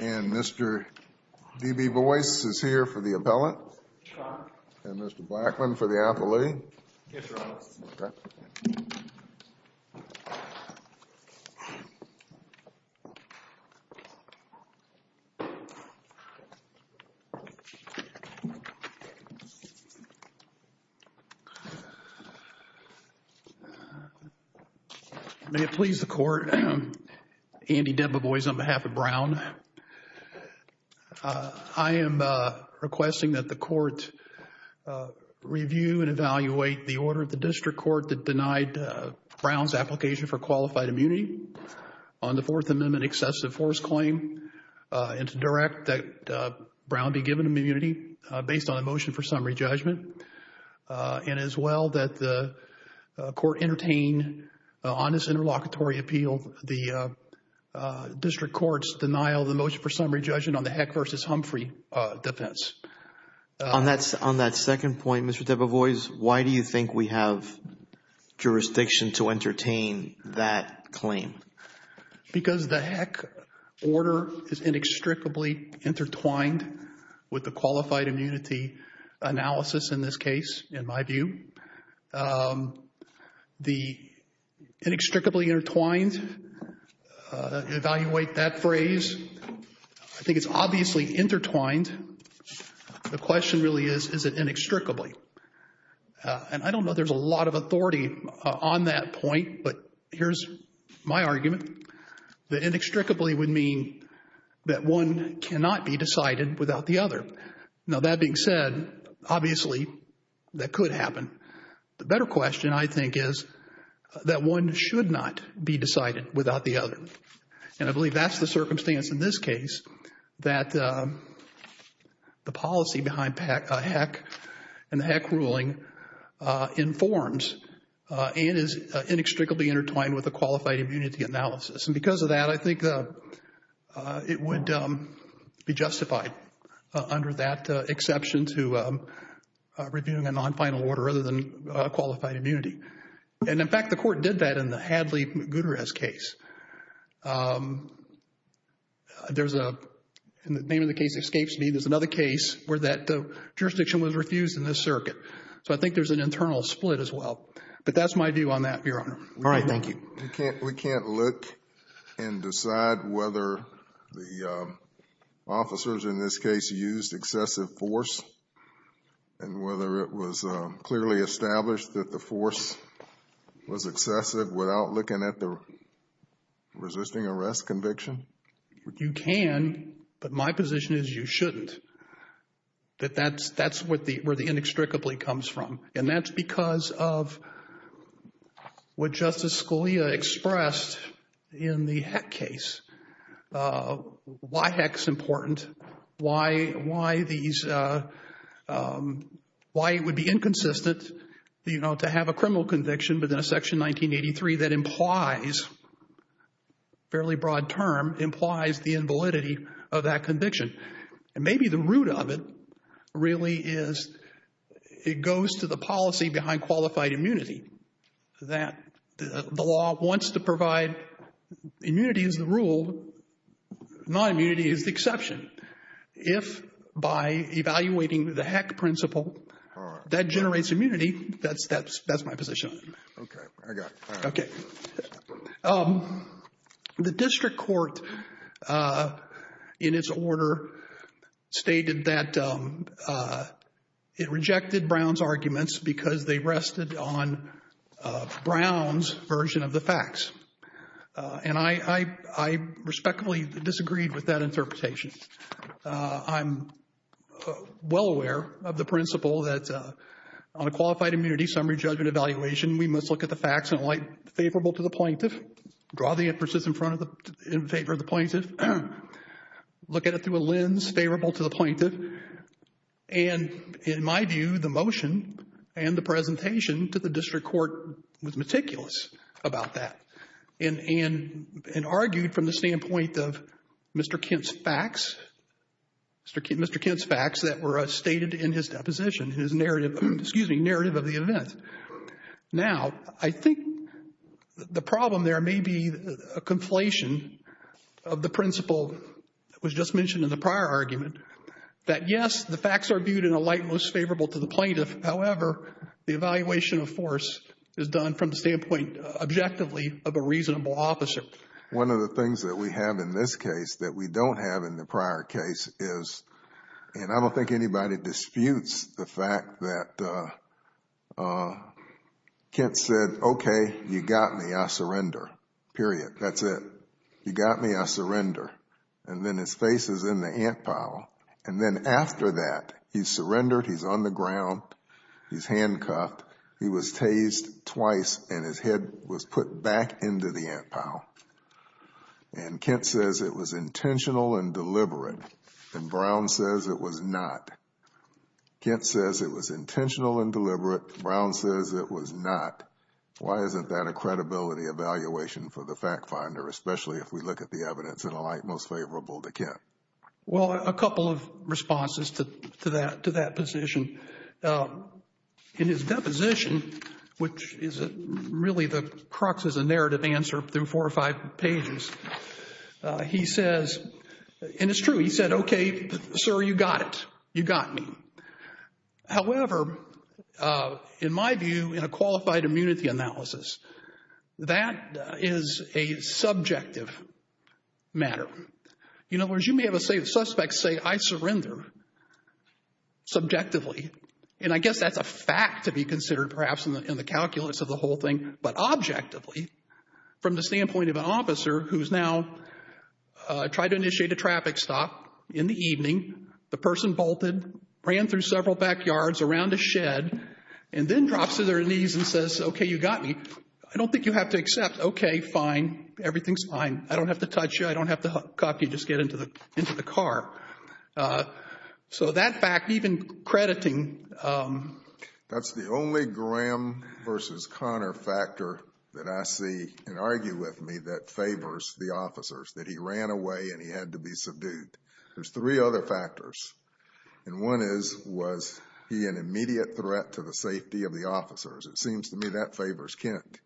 and Mr. D.B. Boyce is here for the appellate and Mr. Blackman for the appellate. May it please the Court, Andy D.B. Boyce on behalf of Brown, I am requesting that the Court evaluate the order of the District Court that denied Brown's application for qualified immunity on the Fourth Amendment excessive force claim and to direct that Brown be given immunity based on a motion for summary judgment and as well that the Court entertain honest interlocutory appeal the District Court's denial of the motion for summary judgment on the Heck v. Humphrey defense. On that second point, Mr. D.B. Boyce, why do you think we have jurisdiction to entertain that claim? Because the Heck order is inextricably intertwined with the qualified immunity analysis in this case in my view. The inextricably intertwined, evaluate that phrase, I think it's obviously intertwined. The question really is, is it inextricably? And I don't know there's a lot of authority on that point, but here's my argument. The inextricably would mean that one cannot be decided without the other. Now that being said, obviously that could happen. The better question I think is that one should not be decided without the other. And I believe that's the circumstance in this case that the policy behind Heck and the Heck ruling informs and is inextricably intertwined with the qualified immunity analysis. And because of that, I think it would be justified under that exception to reviewing a non-final order other than qualified immunity. And in fact, the Court did that in the Hadley-Guterres case. There's a, the name of the case escapes me, there's another case where that jurisdiction was refused in this circuit. So I think there's an internal split as well. But that's my view on that, Your Honor. All right. Thank you. We can't look and decide whether the officers in this case used excessive force and whether it was clearly established that the force was excessive without looking at the resisting arrest conviction? You can, but my position is you shouldn't. That's where the inextricably comes from. And that's because of what Justice Scalia expressed in the Heck case. Why Heck's important, why these, why it would be inconsistent, you know, to have a criminal conviction within a Section 1983 that implies, fairly broad term, implies the invalidity of that conviction. And maybe the root of it really is, it goes to the policy behind qualified immunity. That the law wants to provide immunity as the rule, non-immunity is the exception. If by evaluating the Heck principle, that generates immunity, that's, that's, that's my position. Okay. I got it. Okay. The district court, in its order, stated that it rejected Brown's arguments because they rested on Brown's version of the facts. And I, I, I respectfully disagreed with that interpretation. I'm well aware of the principle that on a qualified immunity summary judgment evaluation, we must look at the facts in a light favorable to the plaintiff, draw the emphasis in front of the, in favor of the plaintiff, look at it through a lens favorable to the plaintiff. And in my view, the motion and the presentation to the district court was meticulous about that. And, and, and argued from the standpoint of Mr. Kent's facts, Mr. Kent, Mr. Kent's facts that were stated in his deposition, his narrative, excuse me, narrative of the event. Now, I think the problem there may be a conflation of the principle that was just mentioned in the prior argument, that yes, the facts are viewed in a light most favorable to the plaintiff. However, the evaluation of force is done from the standpoint objectively of a reasonable officer. One of the things that we have in this case that we don't have in the prior case is, and I don't think anybody disputes the fact that Kent said, okay, you got me, I surrender, period. That's it. You got me, I surrender. And then his face is in the ant pile. And then after that, he surrendered, he's on the ground, he's handcuffed, he was tased twice and his head was put back into the ant pile. And Kent says it was intentional and deliberate, and Brown says it was not. Kent says it was intentional and deliberate, Brown says it was not. Why isn't that a credibility evaluation for the fact finder, especially if we look at the evidence in a light most favorable to Kent? Well, a couple of responses to that position. I mean, in his deposition, which is really the crux of the narrative answer through four or five pages, he says, and it's true, he said, okay, sir, you got it. You got me. However, in my view, in a qualified immunity analysis, that is a subjective matter. In other words, you may have a suspect say, I surrender subjectively. And I guess that's a fact to be considered perhaps in the calculus of the whole thing. But objectively, from the standpoint of an officer who's now tried to initiate a traffic stop in the evening, the person bolted, ran through several backyards around a shed, and then drops to their knees and says, okay, you got me. I don't think you have to accept, okay, fine, everything's fine, I don't have to touch you, I don't have to cop you, just get into the car. So that fact, even crediting... That's the only Graham versus Conner factor that I see and argue with me that favors the officers, that he ran away and he had to be subdued. There's three other factors, and one is, was he an immediate threat to the safety of the officers? It seems to me that favors Kent.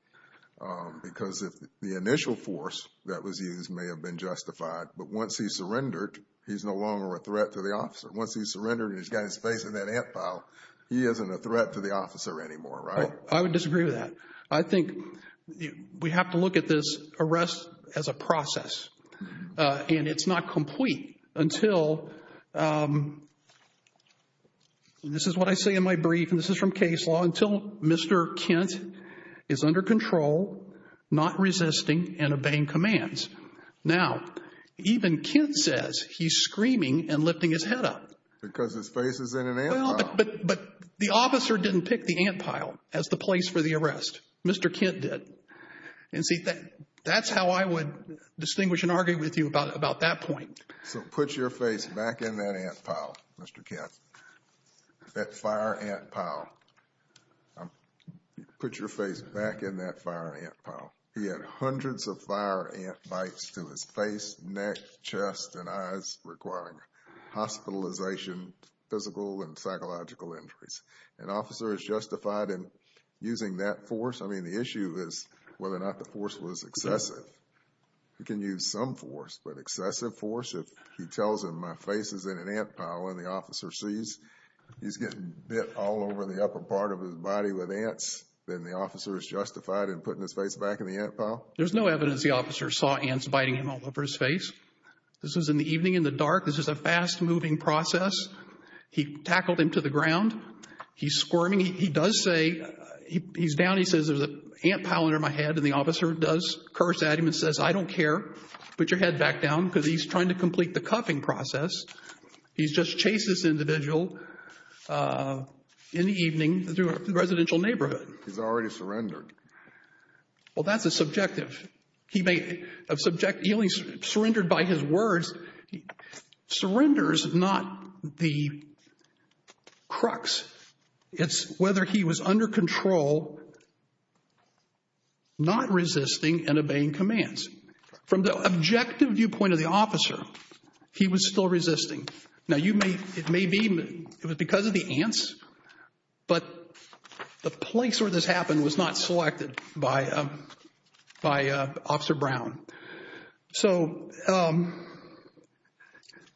Because if the initial force that was used may have been justified, but once he surrendered, he's no longer a threat to the officer. Once he surrendered and he's got his face in that ant pile, he isn't a threat to the officer anymore, right? I would disagree with that. I think we have to look at this arrest as a process. And it's not complete until, and this is what I say in my brief, and this is from case law, until Mr. Kent is under control, not resisting, and obeying commands. Now, even Kent says he's screaming and lifting his head up. Because his face is in an ant pile. But the officer didn't pick the ant pile as the place for the arrest. Mr. Kent did. And see, that's how I would distinguish and argue with you about that point. So put your face back in that ant pile, Mr. Kent. That fire ant pile, put your face back in that fire ant pile. He had hundreds of fire ant bites to his face, neck, chest, and eyes, requiring hospitalization, physical and psychological injuries. An officer is justified in using that force. I mean, the issue is whether or not the force was excessive. He can use some force, but excessive force, if he tells him my face is in an ant pile and the officer sees he's getting bit all over the upper part of his body with ants, then the officer is justified in putting his face back in the ant pile. There's no evidence the officer saw ants biting him all over his face. This was in the evening, in the dark. This is a fast-moving process. He tackled him to the ground. He's squirming. He does say, he's down. He says, there's an ant pile under my head. And the officer does curse at him and says, I don't care. Put your head back down, because he's trying to complete the cuffing process. He's just chased this individual in the evening through a residential neighborhood. He's already surrendered. Well, that's a subjective. He may, of subject, he only surrendered by his words. Surrenders, not the crux. It's whether he was under control, not resisting and obeying commands. From the objective viewpoint of the officer, he was still resisting. Now, it may be it was because of the ants, but the place where this happened was not selected by Officer Brown. So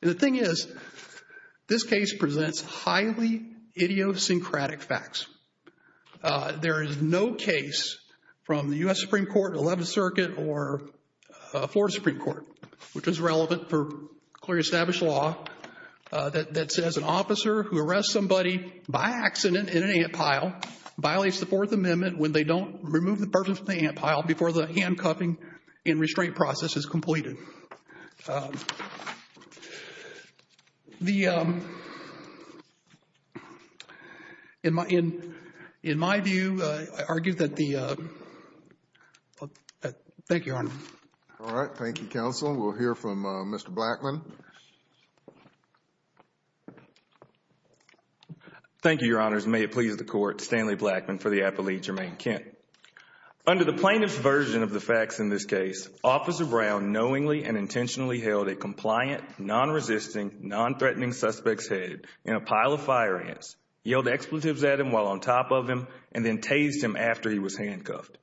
the thing is, this case presents highly idiosyncratic facts. There is no case from the U.S. Supreme Court, 11th Circuit, or Florida Supreme Court, which is relevant for clearly established law, that says an officer who arrests somebody by accident in an ant pile violates the Fourth Amendment when they don't remove the person from the ant pile before the handcuffing and restraint process is completed. The, in my view, I argue that the, thank you, Your Honor. All right. Thank you, counsel. We'll hear from Mr. Blackman. Thank you, Your Honors. May it please the court, Stanley Blackman for the appellate, Jermaine Kent. Under the plaintiff's version of the facts in this case, Officer Brown knowingly and intentionally held a compliant, non-resisting, non-threatening suspect's head in a pile of fire ants, yelled expletives at him while on top of him, and then tased him after he was handcuffed.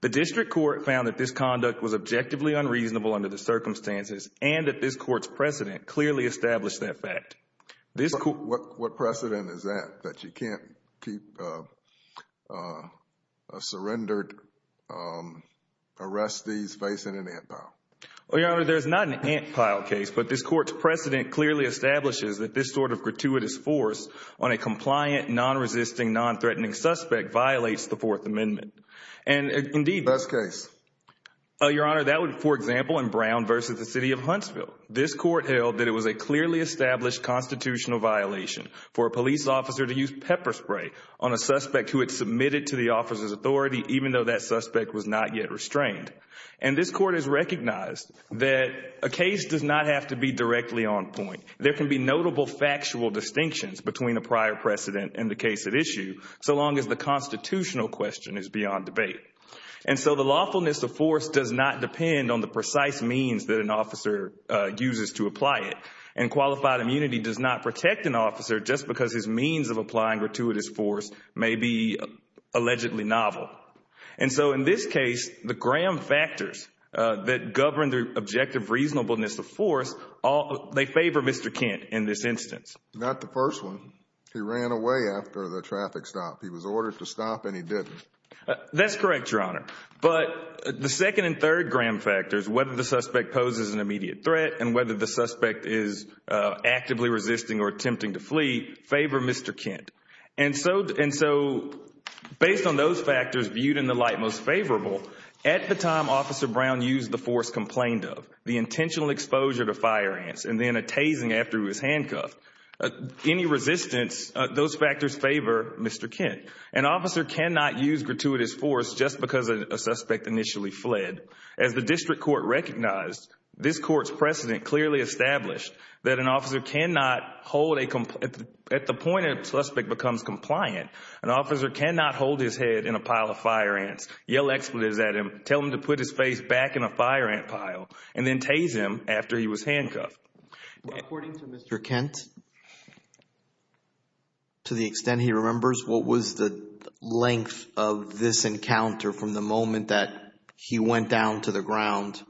The district court found that this conduct was objectively unreasonable under the circumstances and that this court's precedent clearly established that fact. What precedent is that, that you can't keep surrendered arrestees facing an ant pile? Well, Your Honor, there's not an ant pile case, but this court's precedent clearly establishes that this sort of gratuitous force on a compliant, non-resisting, non-threatening suspect violates the Fourth Amendment. And indeed, Best case? Your Honor, that would, for example, in Brown versus the city of Huntsville. This court held that it was a clearly established constitutional violation for a police officer to use pepper spray on a suspect who had submitted to the officer's authority, even though that suspect was not yet restrained. And this court has recognized that a case does not have to be directly on point. There can be notable factual distinctions between a prior precedent and the case at issue, so long as the constitutional question is beyond debate. And so the lawfulness of force does not depend on the precise means that an officer uses to apply it. And qualified immunity does not protect an officer just because his means of applying gratuitous force may be allegedly novel. And so in this case, the Graham factors that govern the objective reasonableness of force, they favor Mr. Kent in this instance. Not the first one. He ran away after the traffic stop. He was ordered to stop and he didn't. That's correct, Your Honor. But the second and third Graham factors, whether the suspect poses an immediate threat and whether the suspect is actively resisting or attempting to flee, favor Mr. Kent. And so based on those factors viewed in the light most favorable, at the time Officer Brown used the force complained of, the intentional exposure to fire ants and then a tasing after he was handcuffed, any resistance, those factors favor Mr. Kent. An officer cannot use gratuitous force just because a suspect initially fled. As the district court recognized, this court's precedent clearly established that an officer cannot hold a, at the point a suspect becomes compliant, an officer cannot hold his head in a pile of fire ants, yell expletives at him, tell him to put his face back in a fire ant pile, and then tase him after he was handcuffed. According to Mr. Kent, to the extent he remembers, what was the length of this encounter from the moment that he went down to the ground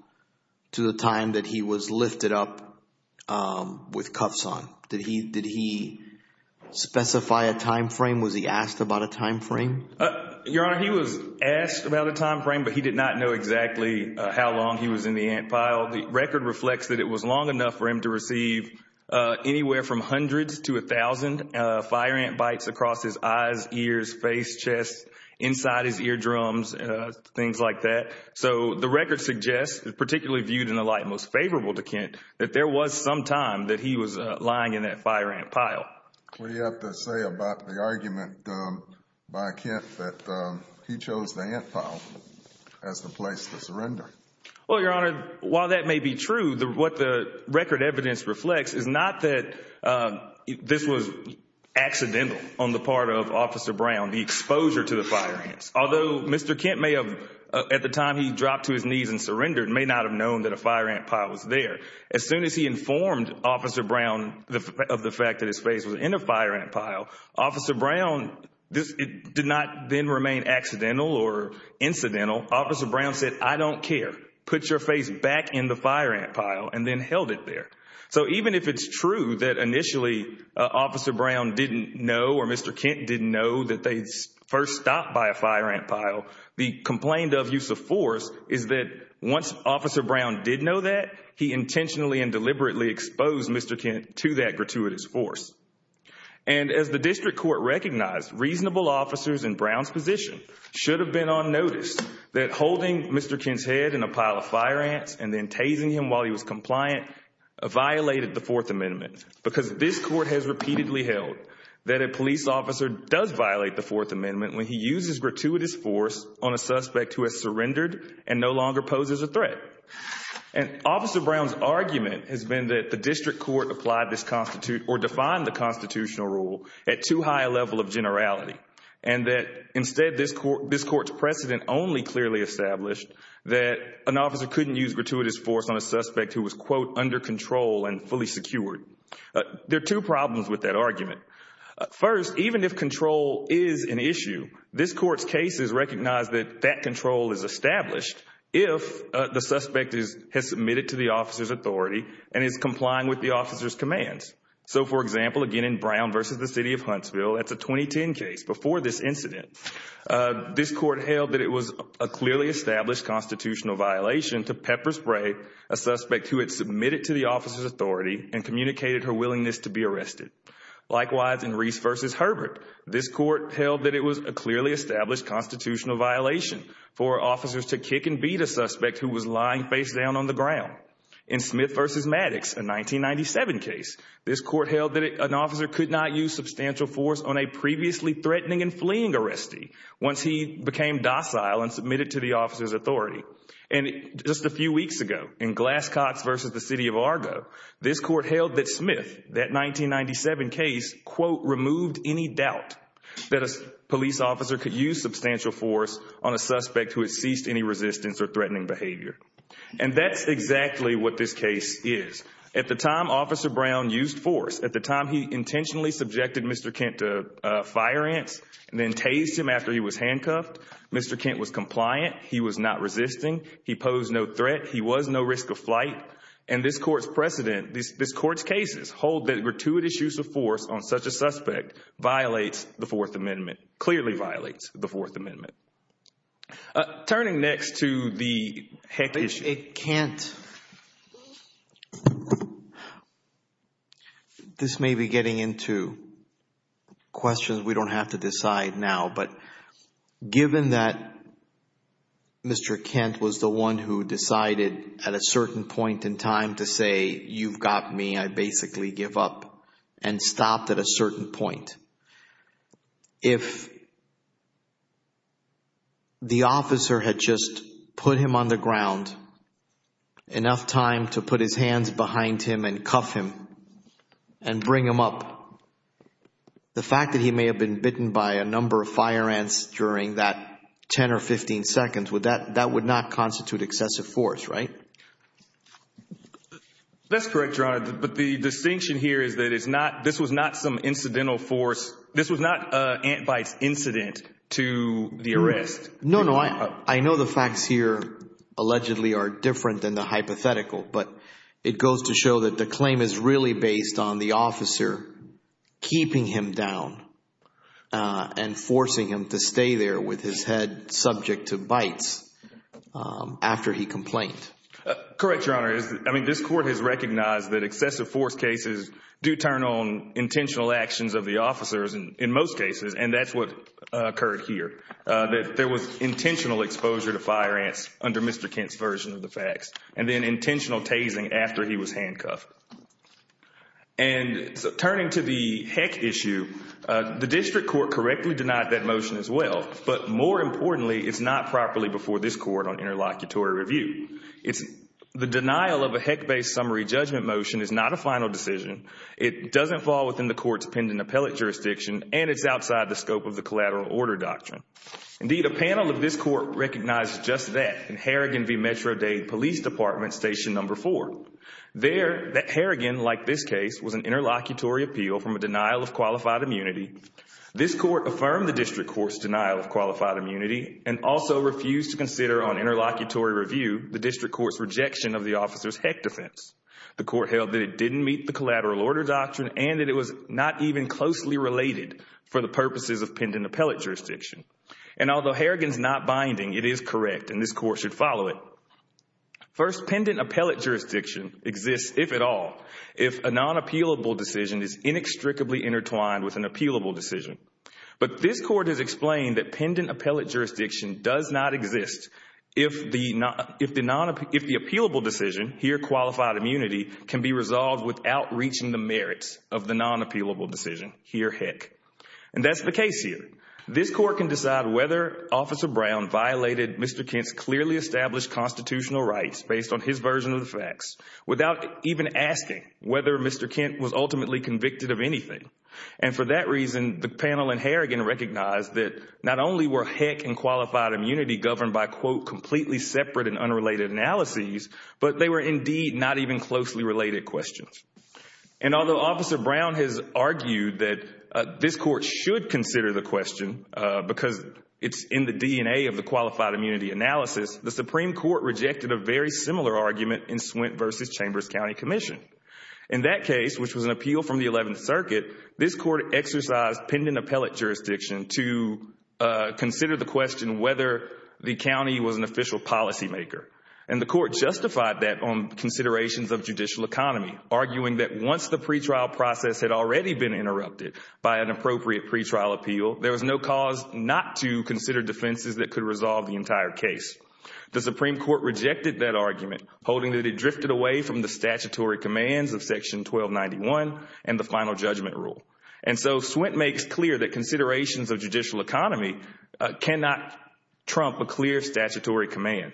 to the time that he was lifted up with cuffs on? Did he specify a timeframe? Was he asked about a timeframe? Your Honor, he was asked about a timeframe, but he did not know exactly how long he was in the ant pile. The record reflects that it was long enough for him to receive anywhere from hundreds to a thousand fire ant bites across his eyes, ears, face, chest, inside his eardrums, things like that. So the record suggests, particularly viewed in the light most favorable to Kent, that there was some time that he was lying in that fire ant pile. What do you have to say about the argument by Kent that he chose the ant pile as the place to surrender? Well, Your Honor, while that may be true, what the record evidence reflects is not that this was accidental on the part of Officer Brown, the exposure to the fire ants. Although Mr. Kent may have, at the time he dropped to his knees and surrendered, may not have known that a fire ant pile was there. As soon as he informed Officer Brown of the fact that his face was in a fire ant pile, Officer Brown did not then remain accidental or incidental. Officer Brown said, I don't care, put your face back in the fire ant pile and then held it there. So even if it's true that initially Officer Brown didn't know or Mr. Kent didn't know that they first stopped by a fire ant pile, the complaint of use of force is that once Officer Brown did know that, he intentionally and deliberately exposed Mr. Kent to that gratuitous force. And as the district court recognized, reasonable officers in Brown's position should have been on notice that holding Mr. Kent's head in a pile of fire ants and then tasing him while he was compliant violated the Fourth Amendment because this court has repeatedly held that a police officer does violate the Fourth Amendment when he uses gratuitous force on a suspect who has surrendered and no longer poses a threat. And Officer Brown's argument has been that the district court applied this constitute or defined the constitutional rule at too high a level of generality and that instead this court's precedent only clearly established that an officer couldn't use gratuitous force on a suspect who was, quote, under control and fully secured. There are two problems with that argument. First, even if control is an issue, this court's case has recognized that that control is established if the suspect has submitted to the officer's authority and is complying with the officer's commands. So, for example, again in Brown v. the City of Huntsville, that's a 2010 case before this incident, this court held that it was a clearly established constitutional violation to pepper spray a suspect who had submitted to the officer's authority and communicated her willingness to be arrested. Likewise, in Reese v. Herbert, this court held that it was a clearly established constitutional violation for officers to kick and beat a suspect who was lying face down on the ground. In Smith v. Maddox, a 1997 case, this court held that an officer could not use substantial force on a previously threatening and fleeing arrestee once he became docile and submitted to the officer's authority. And just a few weeks ago, in Glass-Cox v. the City of Argo, this court held that Smith, that 1997 case, quote, removed any doubt that a police officer could use substantial force on a suspect who had ceased any resistance or threatening behavior. And that's exactly what this case is. At the time, Officer Brown used force. At the time, he intentionally subjected Mr. Kent to fire ants and then tased him after he was handcuffed. Mr. Kent was compliant. He was not resisting. He posed no threat. He was no risk of flight. And this court's precedent, this court's cases hold that gratuitous use of force on such a suspect violates the Fourth Amendment, clearly violates the Fourth Amendment. Turning next to the heck issue. It can't. This may be getting into questions we don't have to decide now, but given that Mr. Kent was the one who decided at a certain point in time to say, you've got me, I basically give up and stopped at a certain point. If the officer had just put him on the ground enough time to put his hands behind him and cuff him and bring him up, the fact that he may have been bitten by a number of fire ants during that 10 or 15 seconds, that would not constitute excessive force, right? That's correct, Your Honor. But the distinction here is that this was not some incidental force. This was not a bite incident to the arrest. No, no. I know the facts here allegedly are different than the hypothetical, but it goes to show that the claim is really based on the officer keeping him down and forcing him to stay there with his head subject to bites after he complained. Correct, Your Honor. This Court has recognized that excessive force cases do turn on intentional actions of the officers in most cases, and that's what occurred here. There was intentional exposure to fire ants under Mr. Kent's version of the facts, and then intentional tasing after he was handcuffed. Turning to the heck issue, the District Court correctly denied that motion as well, but more importantly, it's not properly before this Court on interlocutory review. It's the denial of a heck-based summary judgment motion is not a final decision. It doesn't fall within the Court's pending appellate jurisdiction, and it's outside the scope of the collateral order doctrine. Indeed, a panel of this Court recognizes just that in Harrigan v. Metro-Dade Police Department, Station No. 4. There, that Harrigan, like this case, was an interlocutory appeal from a denial of qualified immunity. This Court affirmed the District Court's denial of qualified immunity and also refused to the District Court's rejection of the officer's heck defense. The Court held that it didn't meet the collateral order doctrine and that it was not even closely related for the purposes of pending appellate jurisdiction. And although Harrigan's not binding, it is correct, and this Court should follow it. First, pending appellate jurisdiction exists, if at all, if a non-appealable decision is inextricably intertwined with an appealable decision. But this Court has explained that pending appellate jurisdiction does not exist if the appealable decision, here qualified immunity, can be resolved without reaching the merits of the non-appealable decision, here heck. And that's the case here. This Court can decide whether Officer Brown violated Mr. Kent's clearly established constitutional rights based on his version of the facts without even asking whether Mr. Kent was ultimately convicted of anything. And for that reason, the panel in Harrigan recognized that not only were heck and completely separate and unrelated analyses, but they were indeed not even closely related questions. And although Officer Brown has argued that this Court should consider the question, because it's in the DNA of the qualified immunity analysis, the Supreme Court rejected a very similar argument in Swint v. Chambers County Commission. In that case, which was an appeal from the 11th Circuit, this Court exercised pending appellate jurisdiction to consider the question whether the county was an official policymaker. And the Court justified that on considerations of judicial economy, arguing that once the pretrial process had already been interrupted by an appropriate pretrial appeal, there was no cause not to consider defenses that could resolve the entire case. The Supreme Court rejected that argument, holding that it drifted away from the statutory commands of Section 1291 and the Final Judgment Rule. And so Swint makes clear that considerations of judicial economy cannot trump a clear statutory command.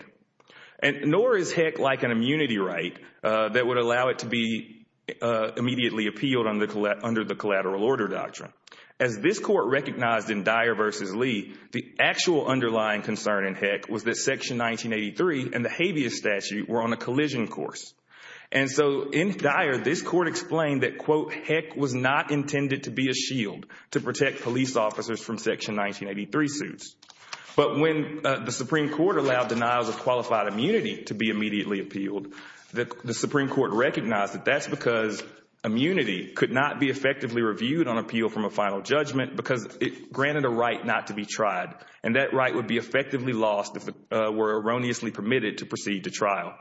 And nor is heck like an immunity right that would allow it to be immediately appealed under the collateral order doctrine. As this Court recognized in Dyer v. Lee, the actual underlying concern in heck was that Section 1983 and the habeas statute were on a collision course. And so in Dyer, this Court explained that, quote, heck was not intended to be a shield to protect police officers from Section 1983 suits. But when the Supreme Court allowed denials of qualified immunity to be immediately appealed, the Supreme Court recognized that that's because immunity could not be effectively reviewed on appeal from a final judgment because it granted a right not to be tried. And that right would be effectively lost if it were erroneously permitted to proceed to trial.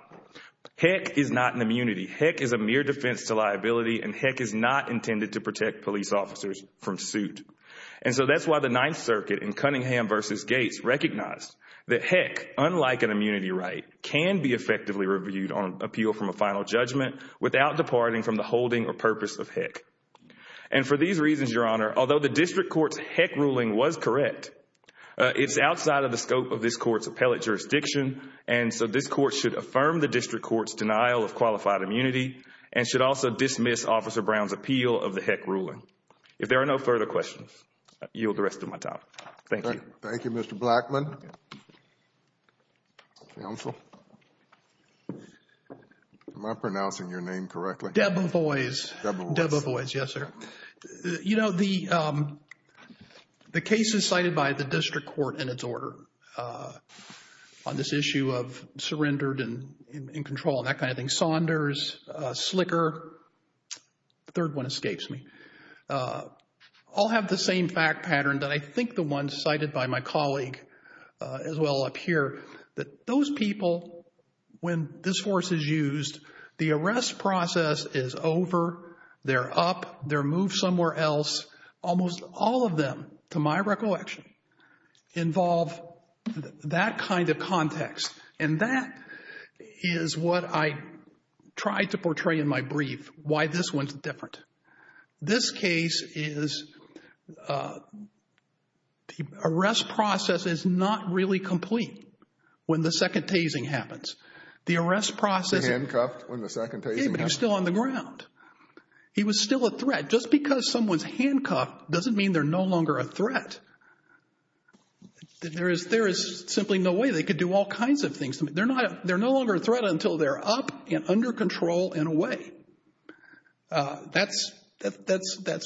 Heck is not an immunity. Heck is a mere defense to liability. And heck is not intended to protect police officers from suit. And so that's why the Ninth Circuit in Cunningham v. Gates recognized that heck, unlike an immunity right, can be effectively reviewed on appeal from a final judgment without departing from the holding or purpose of heck. And for these reasons, Your Honor, although the District Court's heck ruling was correct, it's outside of the scope of this Court's appellate jurisdiction. And so this Court should affirm the District Court's denial of qualified immunity and should also dismiss Officer Brown's appeal of the heck ruling. If there are no further questions, I yield the rest of my time. Thank you. Thank you, Mr. Blackmon. Counsel? Am I pronouncing your name correctly? Debo Voice. Debo Voice, yes, sir. You know, the case is cited by the District Court in its order on this issue of surrendered and in control and that kind of thing. Saunders, Slicker, third one escapes me, all have the same fact pattern that I think the one cited by my colleague as well up here, that those people, when this force is used, the arrest process is over. They're up. They're moved somewhere else. Almost all of them, to my recollection, involve that kind of context. And that is what I tried to portray in my brief, why this one's different. This case is, the arrest process is not really complete when the second tasing happens. The arrest process... The handcuffed when the second tasing happens? Yeah, but he's still on the ground. He was still a threat. Just because someone's handcuffed doesn't mean they're no longer a threat. There is simply no way they could do all kinds of things. They're not, they're no longer a threat until they're up and under control and away. That's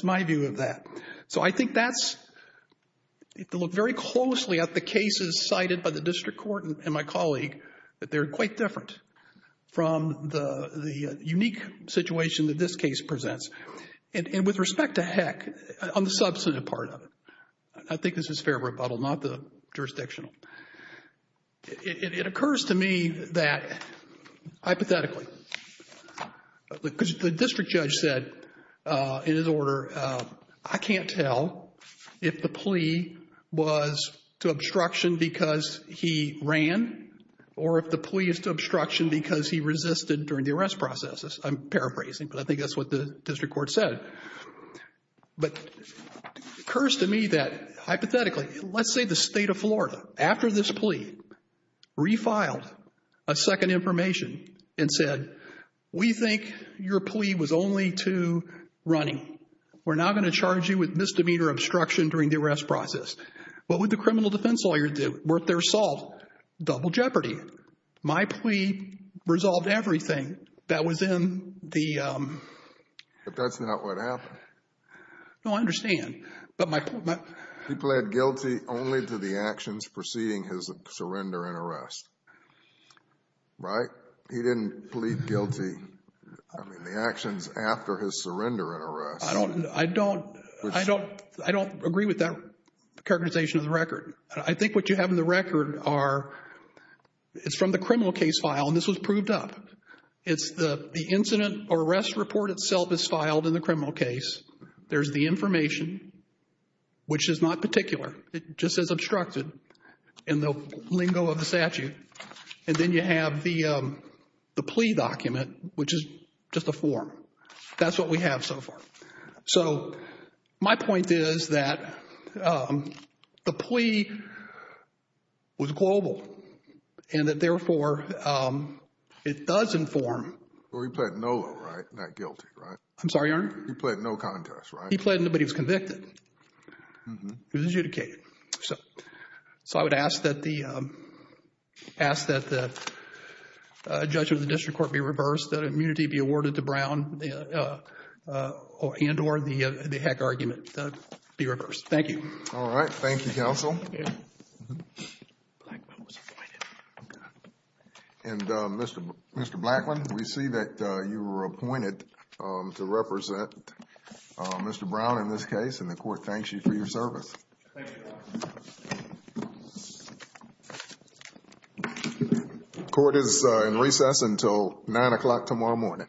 my view of that. So I think that's, if you look very closely at the cases cited by the District Court and my colleague, that they're quite different from the unique situation that this case presents. And with respect to Heck, on the substantive part of it, I think this is fair rebuttal, not the jurisdictional. It occurs to me that, hypothetically, because the district judge said in his order, I can't tell if the plea was to obstruction because he ran or if the plea is to obstruction because he resisted during the arrest processes. I'm paraphrasing, but I think that's what the District Court said. But it occurs to me that, hypothetically, let's say the state of Florida, after this plea, refiled a second information and said, we think your plea was only to running. We're not going to charge you with misdemeanor obstruction during the arrest process. What would the criminal defense lawyer do? Worth their assault? Double jeopardy. My plea resolved everything that was in the... But that's not what happened. No, I understand. He pled guilty only to the actions preceding his surrender and arrest. Right? He didn't plead guilty. I mean, the actions after his surrender and arrest. I don't, I don't, I don't, I don't agree with that characterization of the record. I think what you have in the record are, it's from the criminal case file, and this was proved up. It's the incident or arrest report itself is filed in the criminal case. There's the information, which is not particular. It just says obstructed in the lingo of the statute. And then you have the plea document, which is just a form. That's what we have so far. So my point is that the plea was global and that therefore it does inform... Well, he pled no, right? Not guilty, right? I'm sorry, Your Honor? He pled no contest, right? He pled, but he was convicted. He was adjudicated. So, so I would ask that the, ask that the judge of the district court be reversed. That immunity be awarded to Brown and or the heck argument be reversed. Thank you. All right. Thank you, counsel. And Mr. Blackman, we see that you were appointed to represent Mr. Brown in this case. And the court thanks you for your service. Thank you, Your Honor. Court is in recess until nine o'clock tomorrow morning. All rise.